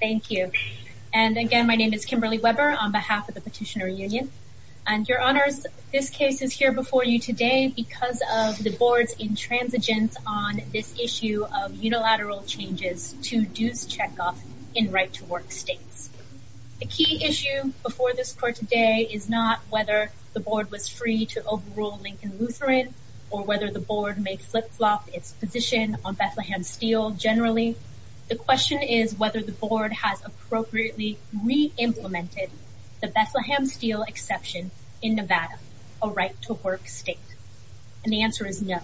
Thank you. And again, my name is Kimberly Weber on behalf of the Petitioner Union. And your honors, this case is here before you today because of the board's intransigence on this issue of unilateral changes to dues checkoff in right-to-work states. The key issue before this court today is not whether the board was free to overrule Lincoln Lutheran or whether the board may flip-flop its position on Bethlehem Steel generally. The question is whether the board has appropriately re-implemented the Bethlehem Steel exception in Nevada, a right-to-work state. And the answer is no.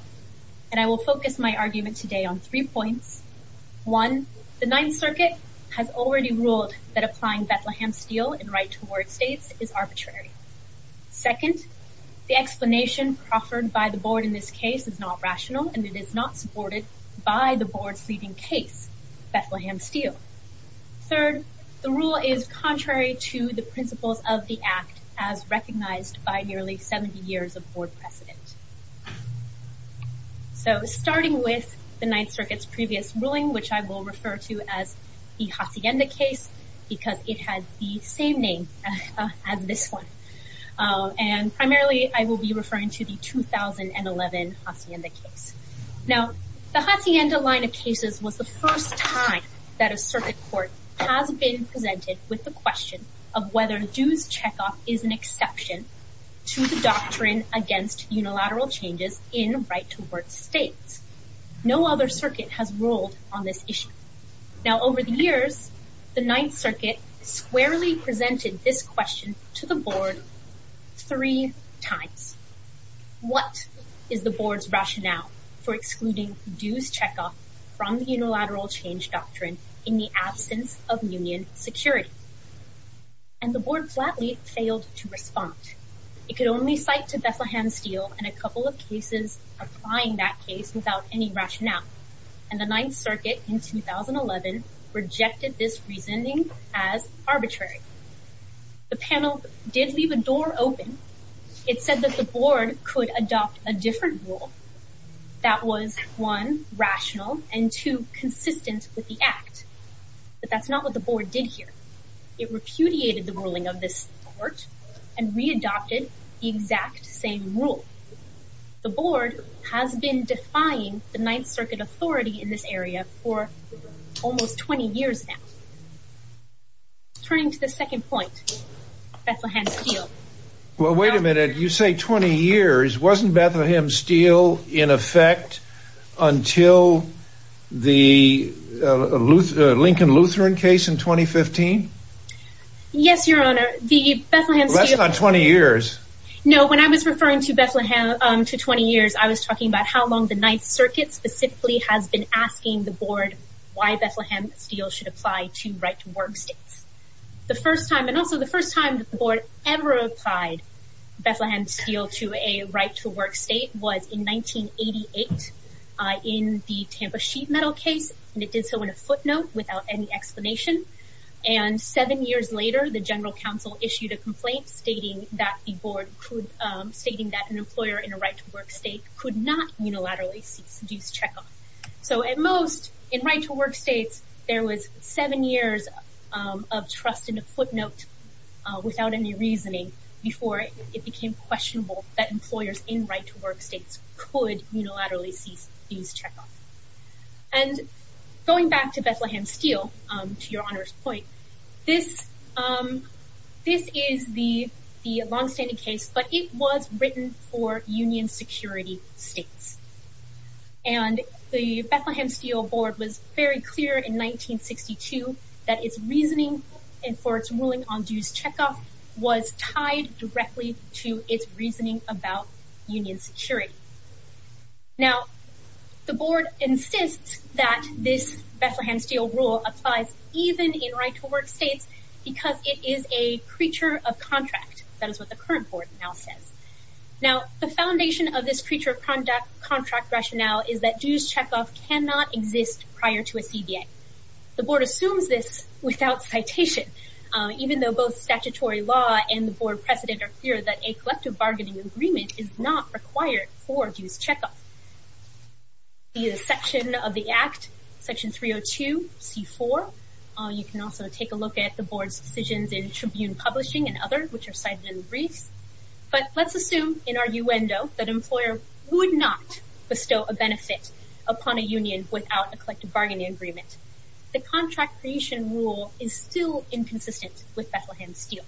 And I will focus my argument today on three points. One, the Ninth Circuit has already ruled that applying Bethlehem Steel in right-to-work states is arbitrary. Second, the explanation proffered by the board in this case is not Bethlehem Steel. Third, the rule is contrary to the principles of the Act as recognized by nearly 70 years of board precedent. So starting with the Ninth Circuit's previous ruling, which I will refer to as the Hacienda case because it had the same name as this one. And primarily I will be referring to the 2011 Hacienda case. Now the Hacienda line of cases was the first time that a circuit court has been presented with the question of whether dues checkoff is an exception to the doctrine against unilateral changes in right-to-work states. No other circuit has ruled on this issue. Now over the years, the Ninth Circuit squarely presented this question to the board three times. What is the board's rationale for excluding dues checkoff from the unilateral change doctrine in the absence of union security? And the board flatly failed to respond. It could only cite to Bethlehem Steel and a couple of cases applying that case without any rationale. And the Ninth Circuit in 2011 rejected this reasoning as arbitrary. The panel did leave a door open. It said that the board could adopt a different rule that was one, rational and two, consistent with the act. But that's not what the board did here. It repudiated the ruling of this court and readopted the exact same rule. The board has been defying the Ninth Circuit authority in this area for almost 20 years now. Turning to the second point, Bethlehem Steel. Well, wait a minute. You say 20 years. Wasn't Bethlehem Steel in effect until the Lincoln-Lutheran case in 2015? Yes, your honor. Less than 20 years. No, when I was referring to Bethlehem to 20 years, I was talking about how long the Ninth Circuit specifically has been asking the board why Bethlehem Steel should apply to right-to-work states. The first time and also the first time that the board ever applied Bethlehem Steel to a right-to-work state was in 1988 in the Tampa Sheet Metal case. And it did so in a footnote without any explanation. And seven years later, the General Counsel issued a complaint stating that the board stating that an employer in a right-to-work state could not unilaterally seduce checkoff. So at most, in right-to-work states, there was seven years of trust in a footnote without any right-to-work states could unilaterally seize checkoff. And going back to Bethlehem Steel, to your honor's point, this is the long-standing case, but it was written for union security states. And the Bethlehem Steel board was very clear in 1962 that its reasoning for its ruling on union security. Now, the board insists that this Bethlehem Steel rule applies even in right-to-work states because it is a creature of contract. That is what the current board now says. Now, the foundation of this creature of contract rationale is that dues checkoff cannot exist prior to a CBA. The board assumes this without citation, even though both statutory law and the not required for dues checkoff. The section of the Act, Section 302, C4. You can also take a look at the board's decisions in Tribune Publishing and other, which are cited in the briefs. But let's assume, in arguendo, that an employer would not bestow a benefit upon a union without a collective bargaining agreement. The contract creation rule is still inconsistent with what the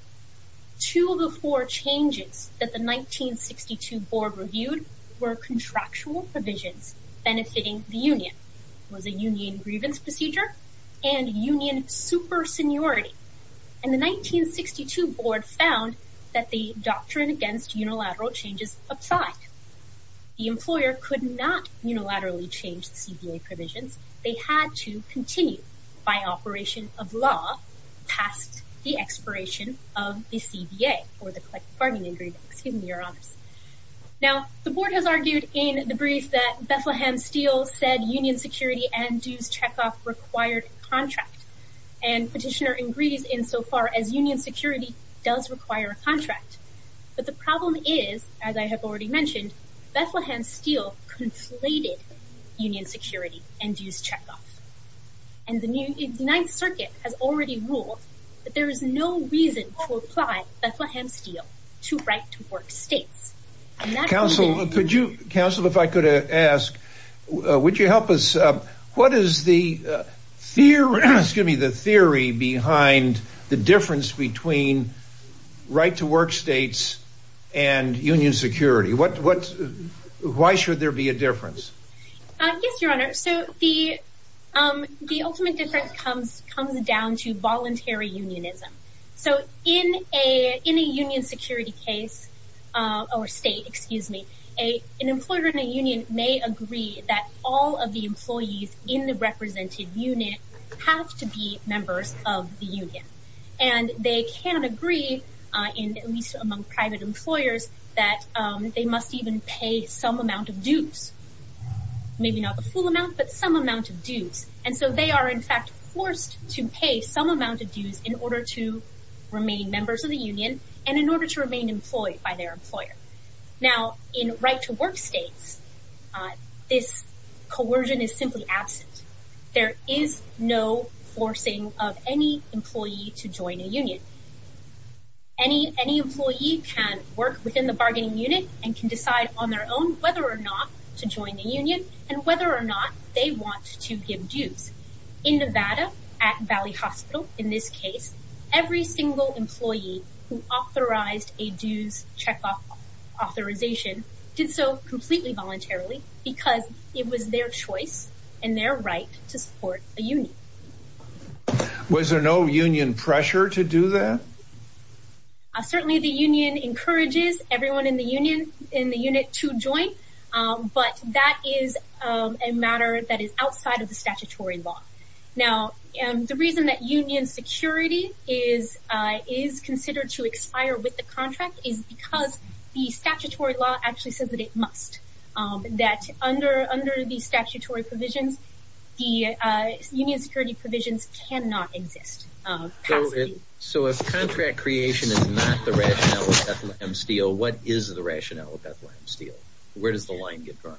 board reviewed were contractual provisions benefiting the union. It was a union grievance procedure and union super seniority. And the 1962 board found that the doctrine against unilateral changes applied. The employer could not unilaterally change the CBA provisions. They had to continue by operation of law past the expiration of the CBA or the collective bargaining agreement. Excuse me, your honors. Now, the board has argued in the brief that Bethlehem Steel said union security and dues checkoff required contract. And petitioner agrees insofar as union security does require a contract. But the problem is, as I have already mentioned, Bethlehem Steel conflated union security and dues checkoff. And the new Ninth Circuit has already ruled that there is no reason to apply Bethlehem Steel to right-to-work states. Counsel, if I could ask, would you help us? What is the theory behind the difference between right-to-work states and union security? Why should there be a difference? Yes, your honor. So the ultimate difference comes down to voluntary unionism. So in a union security case, or state, excuse me, an employer in a union may agree that all of the employees in the represented unit have to be members of the union. And they can agree, at least among private employers, that they must even pay some amount of dues. Maybe not the full amount, but some amount of dues. And so they are in fact forced to pay some amount of dues in order to remain members of the union and in order to remain employed by their employer. Now in right-to-work states, this coercion is simply absent. There is no forcing of any employee to join a union. Any employee can work within the bargaining unit and can decide on their own whether or not to join the union and whether or not they want to give dues. In Nevada, at Valley Hospital, in this case, every single employee who authorized a dues check-off authorization did so completely voluntarily because it was their choice and their right to support a union. Was there no union pressure to do that? Certainly the union encourages everyone in the union in the unit to join, but that is a matter that is outside of the statutory law. Now the reason that union security is considered to expire with the contract is because the statutory law actually says that it must, that under the statutory provisions, the union security provisions cannot exist. So if contract creation is not the rationale of Bethlehem Steel, what is the rationale of Bethlehem Steel? Where does the line get drawn?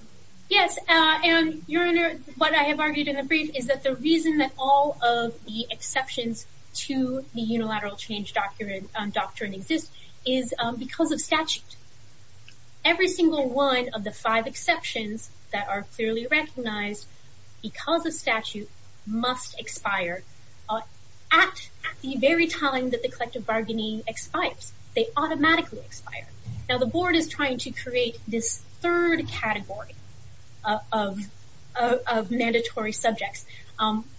Yes, and Your Honor, what I have argued in the brief is that the reason that all of the exceptions to the unilateral change doctrine exist is because of statute. Every single one of the five exceptions that are clearly recognized because of statute must expire at the very time that the collective bargaining expires. They automatically expire. Now the board is trying to create this third category of mandatory subjects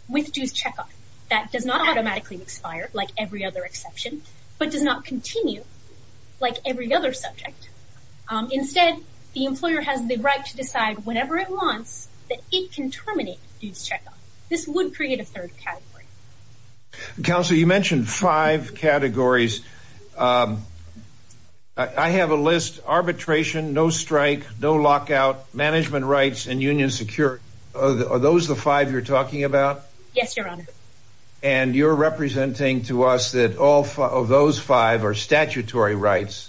with dues check-off that does not automatically expire, like every other exception, but does not continue like every other subject. Instead, the employer has the right to decide whenever it wants that it can terminate dues check-off. This would create a third category. Counsel, you mentioned five categories. I have a list, arbitration, no strike, no lockout, management rights, and union security. Are those the five you're talking about? Yes, Your Honor. And you're representing to us that all of those five are statutory rights.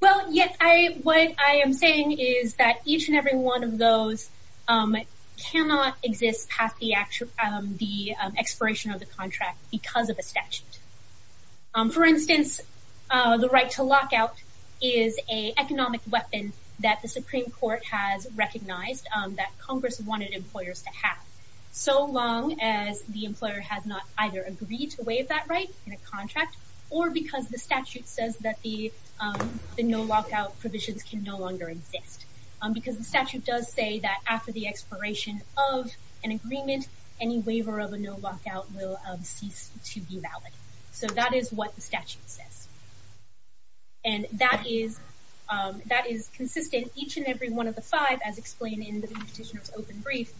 Well, yes, what I am saying is that each and every one of those cannot exist past the expiration of the contract because of a statute. For instance, the right to lockout is an economic weapon that the Supreme Court has recognized that Congress wanted employers to have so long as the employer has not either agreed to waive that right in a contract or because the statute says that the no lockout provisions can no longer exist because the statute does say that after the expiration of an agreement, any waiver of a no lockout will cease to be valid. So that is what the statute says. And that is consistent. Each and every one of the five, as explained in the Petitioner's Open Brief,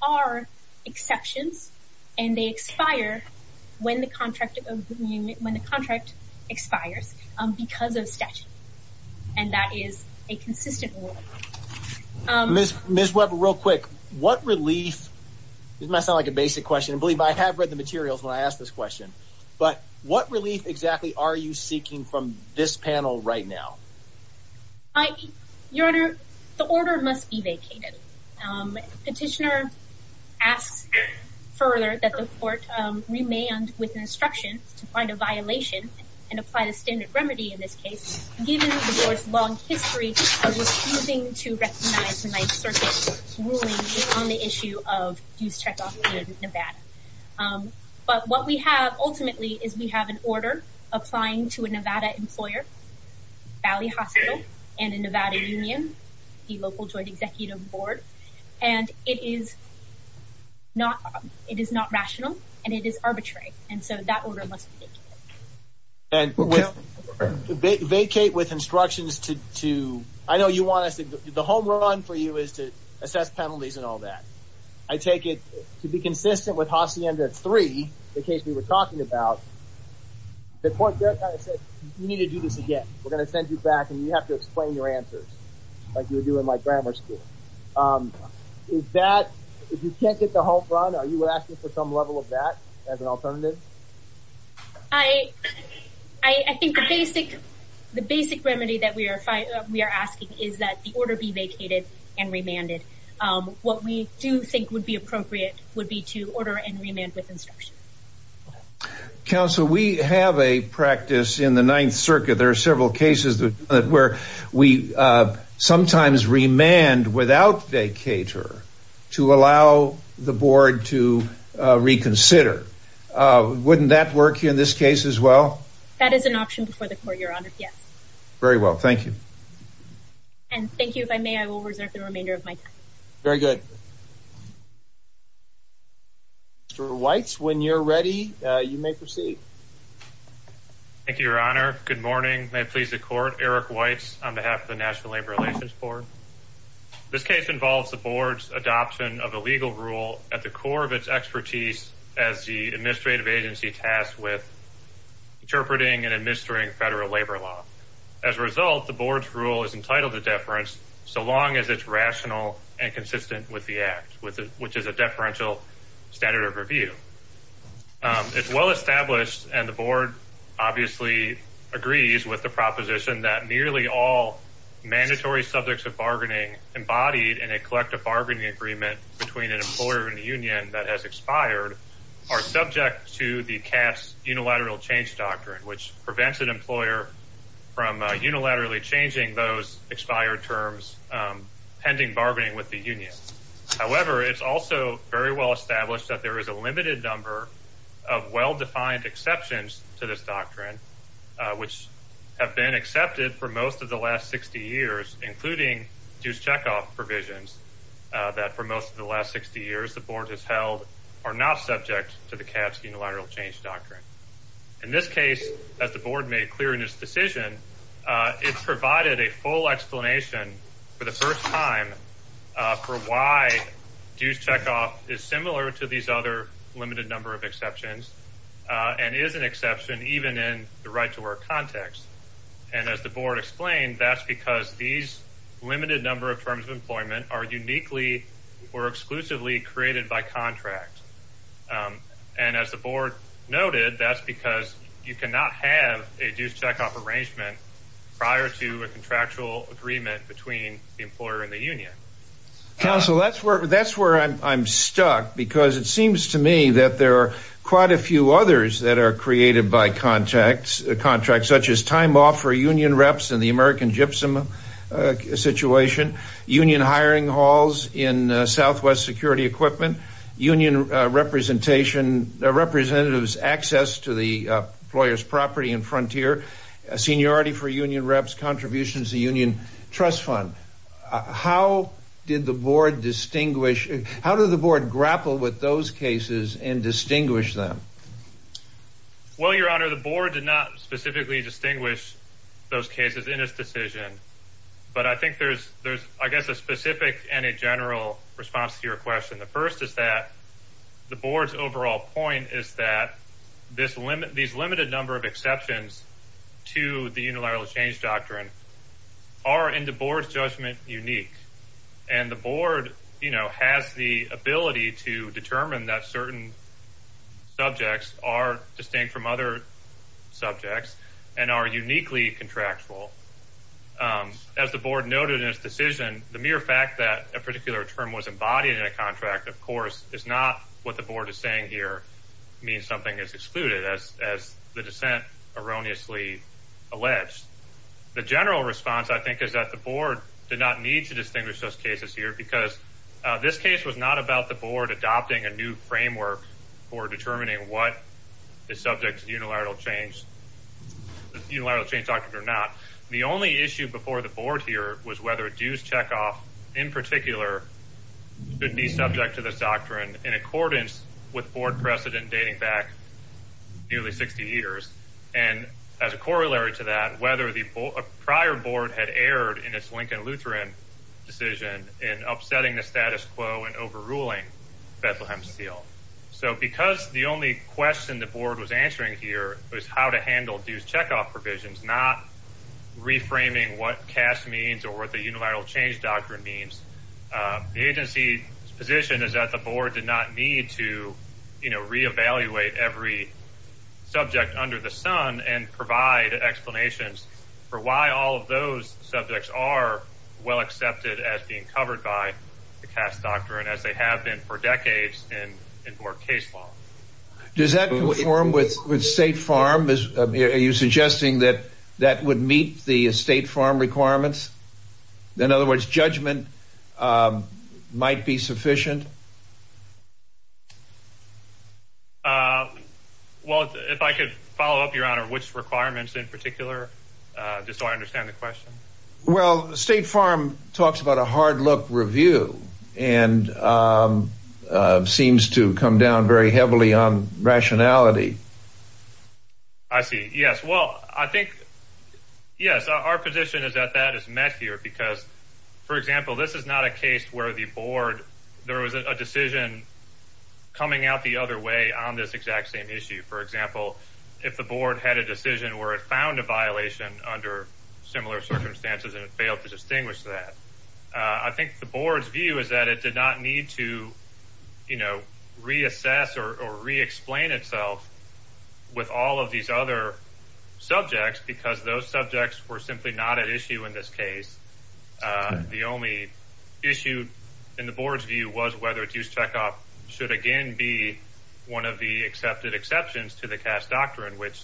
are exceptions and they expire when the contract expires because of statute. And that is a consistent rule. Ms. Weber, real quick, what relief, this might sound like a basic question, believe me, I have read the materials when I asked this question, but what relief exactly are you seeking from this panel right now? Your Honor, the order must be vacated. Petitioner asks further that the court remand with instruction to find a violation and apply the standard remedy in this case, given the Court's long history of refusing to recognize certain rulings on the issue of dues check-off in Nevada. But what we have ultimately is we have an order applying to a Nevada employer, Valley Hospital, and a Nevada union, the local joint executive board, and it is not rational and it is arbitrary. And so that order must be vacated. And vacate with instructions to, I know you want us to, the home run for you is to assess penalties and all that. I take it to be consistent with Hacienda 3, the case we were talking about, the court there kind of said, you need to do this again. We're going to send you back and you have to explain your answers like you would do in my grammar school. Is that, if you can't get the home run, are you asking for some level of that as an alternative? I think the basic remedy that we are asking is that the order be vacated and remanded. What we do think would be appropriate would be to order and remand with instruction. Counsel, we have a practice in the Ninth Circuit, there are several cases where we sometimes remand without vacater to allow the board to reconsider. Wouldn't that work in this case as well? That is an option before the court, your honor, yes. Very well, thank you. And thank you. If I may, I will reserve the remainder of my time. Very good. Mr. Weitz, when you're ready, you may proceed. Thank you, your honor. Good morning. May it please the court, Eric Weitz on behalf of the National Labor Relations Board. This case involves the board's adoption of a legal rule at the core of its expertise as the administrative agency tasked with interpreting and administering federal labor law. As a result, the board's rule is entitled to deference so long as it's rational and consistent with the act, which is a deferential standard of review. It's well-established and the mandatory subjects of bargaining embodied in a collective bargaining agreement between an employer and the union that has expired are subject to the CAF's unilateral change doctrine, which prevents an employer from unilaterally changing those expired terms pending bargaining with the union. However, it's also very well-established that there is a limited number of well-defined exceptions to this doctrine, which have been accepted for most of the last 60 years, including dues checkoff provisions that for most of the last 60 years the board has held are not subject to the CAF's unilateral change doctrine. In this case, as the board made clear in its decision, it's provided a full explanation for the first time for why dues checkoff is other limited number of exceptions and is an exception even in the right-to-work context. And as the board explained, that's because these limited number of terms of employment are uniquely or exclusively created by contract. And as the board noted, that's because you cannot have a dues checkoff arrangement prior to a contractual agreement between the employer and the union. Counsel, that's where I'm stuck, because it seems to me that there are quite a few others that are created by contracts, such as time off for union reps in the American gypsum situation, union hiring halls in southwest security equipment, union representation, representatives' access to the employer's property and frontier, seniority for union reps, contributions to the union trust fund. How did the board grapple with those cases and distinguish them? Well, your honor, the board did not specifically distinguish those cases in its decision, but I think there's, I guess, a specific and a general response to your question. The first is that the board's overall point is that these limited number of exceptions to the unilateral change doctrine are, in the board's judgment, unique. And the board, you know, has the ability to determine that certain subjects are distinct from other subjects and are uniquely contractual. As the board noted in its decision, the mere fact that a particular term was embodied in a contract, of course, is not what the board is saying here, means something is excluded, as the dissent erroneously alleged. The general response, I think, is that the board did not need to distinguish those cases here because this case was not about the board adopting a new framework for determining what is subject to the unilateral change doctrine or not. The only issue before the board here was whether dues checkoff, in particular, could be subject to this doctrine in accordance with board precedent dating back nearly 60 years. And as a corollary to that, whether the prior board had erred in its Lincoln-Lutheran decision in upsetting the status quo and overruling Bethlehem Steel. So because the only question the board was answering here was how to handle dues checkoff provisions, not reframing what CAST means or what the unilateral change doctrine means, the agency's position is that the board did not need to, you know, re-evaluate every subject under the sun and provide explanations for why all of those subjects are well accepted as being covered by the CAST doctrine, as they have been for decades in board case law. Does that conform with State Farm? Are you suggesting that that would meet the State Farm requirements? In other words, judgment might be sufficient? Well, if I could follow up, your honor, which requirements in particular, just so I understand the question. Well, State Farm talks about a hard-look review and it seems to come down very heavily on rationality. I see. Yes. Well, I think, yes, our position is that that is met here because, for example, this is not a case where the board, there was a decision coming out the other way on this exact same issue. For example, if the board had a decision where it found a violation under similar circumstances and it did not need to, you know, reassess or re-explain itself with all of these other subjects because those subjects were simply not at issue in this case. The only issue in the board's view was whether it used checkoff should again be one of the accepted exceptions to the CAST doctrine, which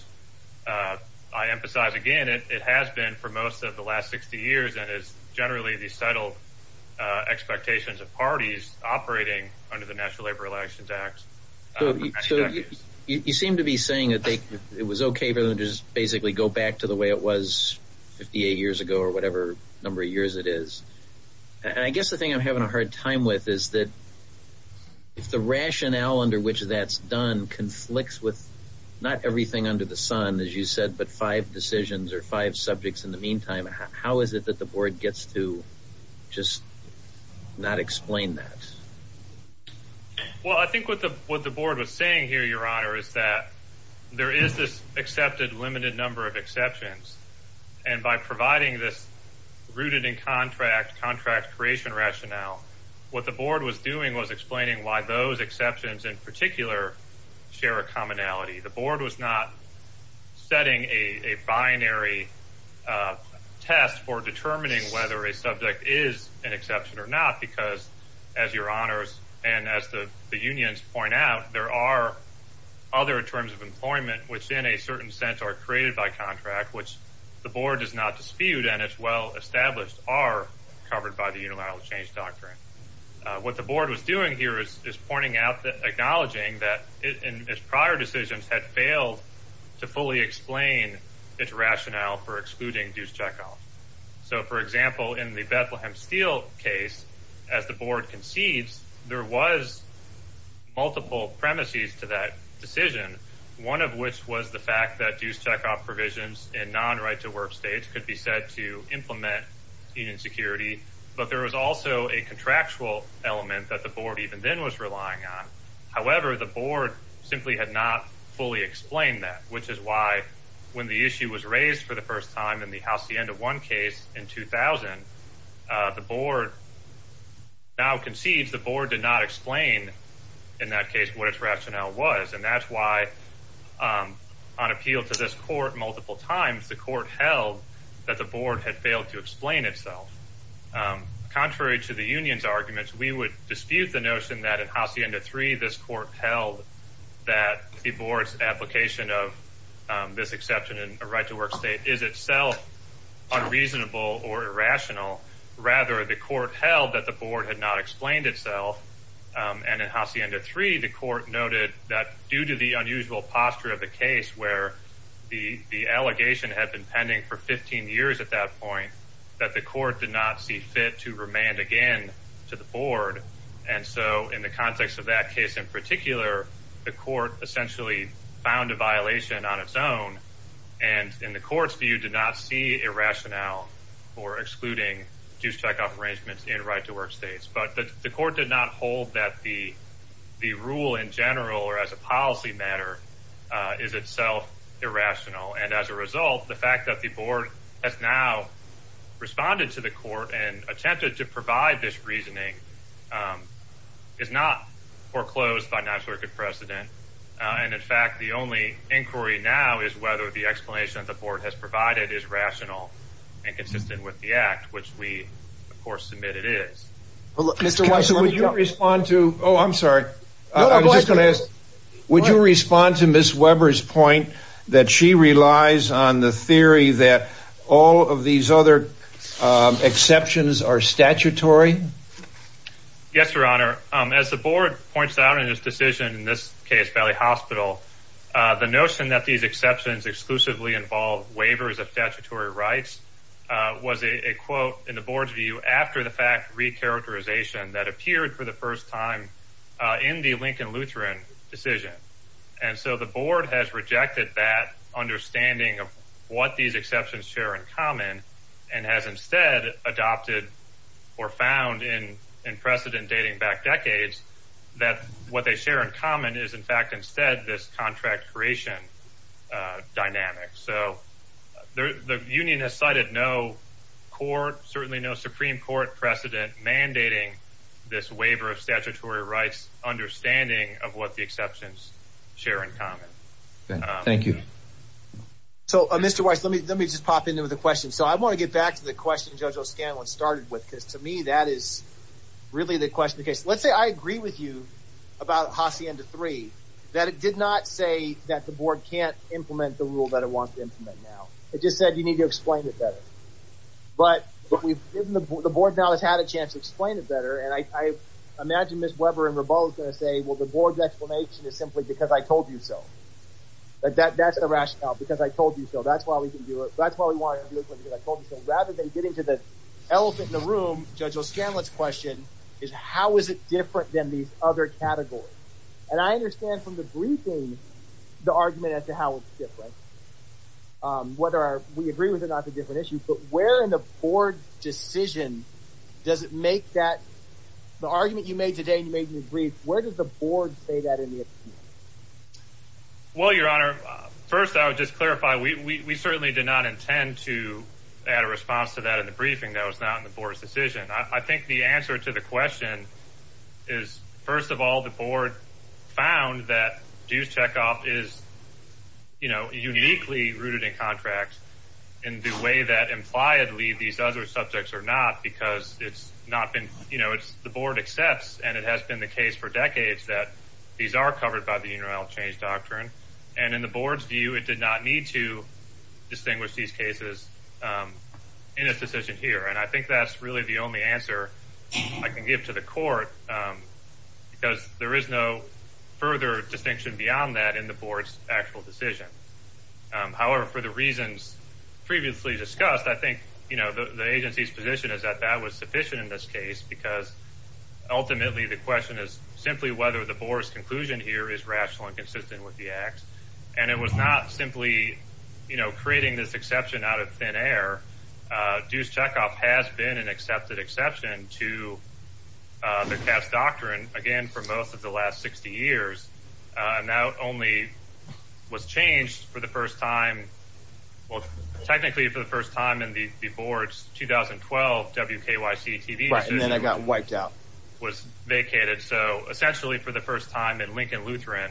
I emphasize again, it has been for most of the last 60 years and is generally the settled expectations of parties operating under the National Labor Relations Act. You seem to be saying that it was okay for them to just basically go back to the way it was 58 years ago or whatever number of years it is. And I guess the thing I'm having a hard time with is that if the rationale under which that's done conflicts with not everything under the sun, as you said, but five decisions or five subjects in the meantime, how is it that the board gets to just not explain that? Well, I think what the board was saying here, your honor, is that there is this accepted limited number of exceptions. And by providing this rooted in contract, contract creation rationale, what the board was doing was explaining why those exceptions in particular share a commonality. The board was not setting a binary test for determining whether a subject is an exception or not, because as your honors and as the unions point out, there are other terms of employment, which in a certain sense are created by contract, which the board does not dispute and it's well established are covered by the unilateral change doctrine. What the board was doing here is pointing out, acknowledging that its prior decisions had to fully explain its rationale for excluding dues checkoff. So, for example, in the Bethlehem Steel case, as the board concedes, there was multiple premises to that decision, one of which was the fact that dues checkoff provisions in non-right-to-work states could be said to implement union security. But there was also a contractual element that the board even then was relying on. However, the board simply had not fully explained that, which is why when the issue was raised for the first time in the Hacienda One case in 2000, the board now concedes the board did not explain in that case what its rationale was. And that's why on appeal to this court multiple times, the court held that the board had failed to explain itself. Contrary to the union's arguments, we would dispute the notion that in Hacienda Three, this court held that the board's application of this exception in a right-to-work state is itself unreasonable or irrational. Rather, the court held that the board had not explained itself. And in Hacienda Three, the court noted that due to the unusual posture of the case where the allegation had been pending for 15 years at that point, that the court did not see fit to remand again to the board. And so in the context of that case in particular, the court essentially found a violation on its own. And in the court's view, did not see a rationale for excluding dues checkoff arrangements in right-to-work states. But the court did not hold that the rule in general or as a policy matter is itself irrational. And as a result, the fact that the board has now responded to the court and attempted to provide this reasoning is not foreclosed by national record precedent. And in fact, the only inquiry now is whether the explanation the board has provided is rational and consistent with the act, which we of course admit it is. Mr. Weiser, would you respond to, oh, I'm sorry. I was just going to ask, would you respond to Ms. Weber's point that she relies on the theory that all of these other exceptions are statutory? Yes, your honor. As the board points out in this decision, in this case, Valley Hospital, the notion that these exceptions exclusively involve waivers of statutory rights was a quote in the board's view after the fact recharacterization that appeared for the first time in the Lincoln Lutheran decision. And so the board has rejected that understanding of what these exceptions share in common and has instead adopted or found in in precedent dating back decades that what they share in common is in fact instead this contract creation dynamic. So the union has cited no court, certainly no Supreme Court precedent mandating this waiver of statutory rights, understanding of what the exceptions share in common. Thank you. So Mr. Weiss, let me, let me just pop into the question. So I want to get back to the question. Judge O'Scanlan started with, because to me, that is really the question of the case. Let's say I agree with you about Hacienda 3, that it did not say that the board can't implement the rule that it wants to implement now. It just said, you need to explain it better. But we've given the board now has had a chance to explain it better. And I imagine Ms. Weber and Rabal is going to say, well, the board's explanation is simply because I told you so. But that's the rationale, because I told you so. That's why we can do it. That's why we wanted to do it, because I told you so. Rather than getting to the elephant in the room, Judge O'Scanlan's question is, how is it different than these other categories? And I understand from the briefing, the argument as to how it's different. Whether we agree with it or not is a different issue, but where in the board decision does it make that, the argument you made today, you made in your brief, where does the board say that in the opinion? Well, Your Honor, first I would just clarify, we certainly did not intend to add a response to that in the briefing. That was not in the board's decision. I think the answer to the question is, first of all, the board found that dues checkoff is, you know, uniquely rooted in contracts in the way that impliedly these other subjects are not, because it's not been, you know, it's the board accepts, and it has been the case for decades that these are covered by the unilateral change doctrine. And in the board's view, it did not need to distinguish these cases in its decision here. And I think that's really the only answer I can give to the court, because there is no further distinction beyond that in the board's actual decision. However, for the reasons previously discussed, I think, you know, the agency's position is that that was ultimately the question is simply whether the board's conclusion here is rational and consistent with the acts. And it was not simply, you know, creating this exception out of thin air. Dues checkoff has been an accepted exception to the Cass doctrine, again, for most of the last 60 years. And that only was changed for the first time, well, technically for the first time in the board's 2012 WKYC TV, and then I got wiped out, was vacated. So essentially, for the first time in Lincoln Lutheran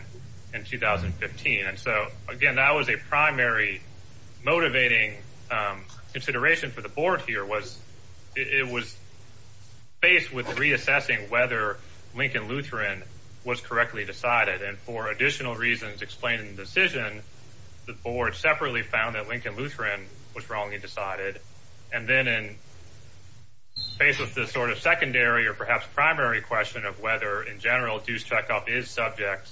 in 2015. And so again, that was a primary motivating consideration for the board here was it was faced with reassessing whether Lincoln Lutheran was correctly decided. And for additional reasons explained in the decision, the board separately found that And then in face of this sort of secondary or perhaps primary question of whether in general dues checkoff is subject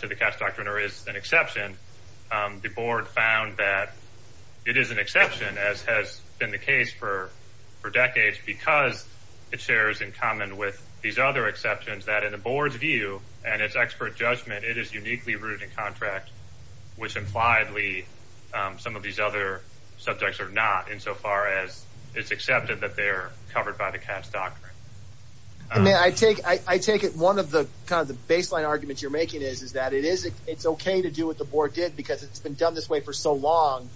to the Cass doctrine or is an exception, the board found that it is an exception, as has been the case for decades, because it shares in common with these other exceptions that in the board's view and its expert judgment, it is uniquely rooted in contract, which impliedly, some of these other subjects are not insofar as it's accepted that they're covered by the Cass doctrine. And then I take I take it one of the kind of the baseline arguments you're making is, is that it is it's okay to do what the board did, because it's been done this way for so long,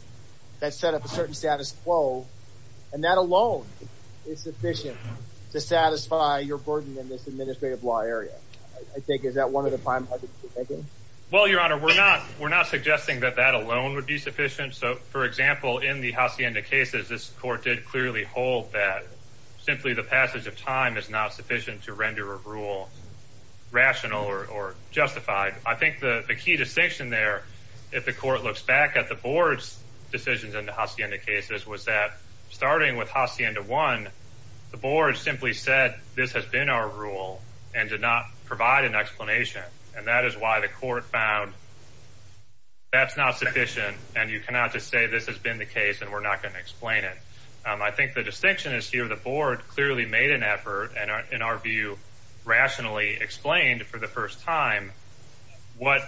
that set up a certain status quo. And that alone is sufficient to satisfy your burden in this administrative law area. I think is that one of the prime? Well, Your Honor, we're not we're not suggesting that that alone would be sufficient. So, for example, in the Hacienda cases, this court did clearly hold that simply the passage of time is not sufficient to render a rule rational or justified. I think the key distinction there, if the court looks back at the board's decisions in the Hacienda cases, was that starting with Hacienda one, the board simply said this has been our rule and did not provide an explanation. And that is why the court found that's not sufficient. And you cannot just say this has been the case and we're not going to explain it. I think the distinction is here. The board clearly made an effort and in our view, rationally explained for the first time what,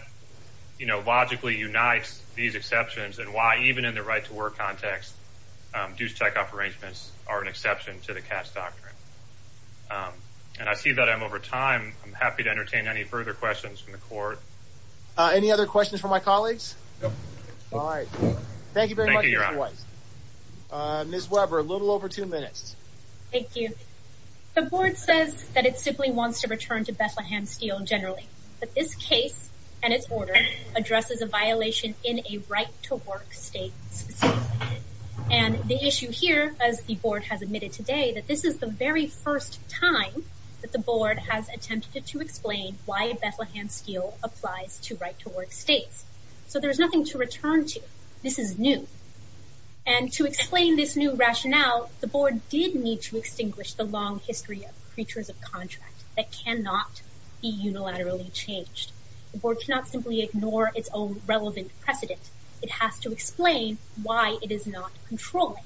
you know, logically unites these exceptions and why, even in the right to work context, due checkoff arrangements are an exception to the Cass doctrine. Um, and I see that I'm over time. I'm happy to entertain any further questions from the court. Any other questions for my colleagues? All right. Thank you very much. Miss Webber, a little over two minutes. Thank you. The board says that it simply wants to return to Bethlehem Steel generally. But this case and its order addresses a violation in a right to work state. And the issue here, as the board has admitted today, that this is the very first time that the board has attempted to explain why Bethlehem Steel applies to right to work states. So there's nothing to return to. This is new. And to explain this new rationale, the board did need to extinguish the long history of creatures of contract that cannot be unilaterally changed. The board cannot simply ignore its own relevant precedent. It has to explain why it is not controlling.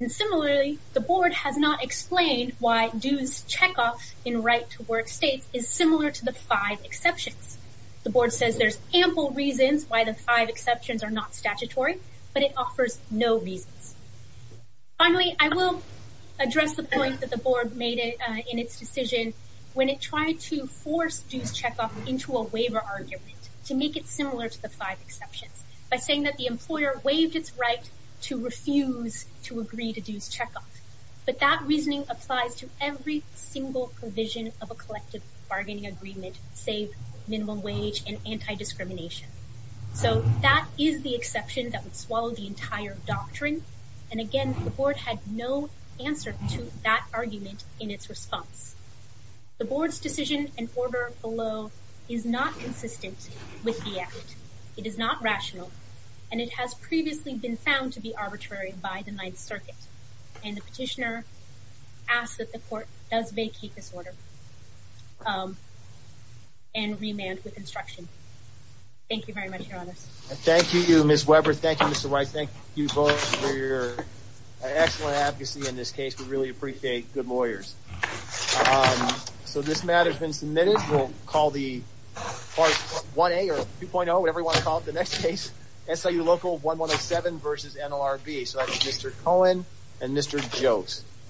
And similarly, the board has not explained why dues checkoff in right to work states is similar to the five exceptions. The board says there's ample reasons why the five exceptions are not statutory, but it offers no reasons. Finally, I will address the point that the board made in its decision when it tried to force dues checkoff into a waiver argument to make it similar to the five exceptions by saying that the employer waived its right to refuse to agree to dues checkoff. But that reasoning applies to every single provision of a collective bargaining agreement, save minimum wage and anti-discrimination. So that is the exception that would swallow the entire doctrine. And again, the board had no answer to that argument in its response. The board's decision and order below is not consistent with the act. It is not rational, and it has previously been found to be arbitrary by the Ninth Circuit. And the petitioner asks that the court does vacate this order and remand with instruction. Thank you very much, and thank you, Ms. Weber. Thank you, Mr. White. Thank you both for your excellent advocacy in this case. We really appreciate good lawyers. So this matter has been submitted. We'll call the part 1A or 2.0, whatever you want to call it, the next case, SIU Local 1107 versus NLRB. So that's Mr. Cohen and Mr. Jotes.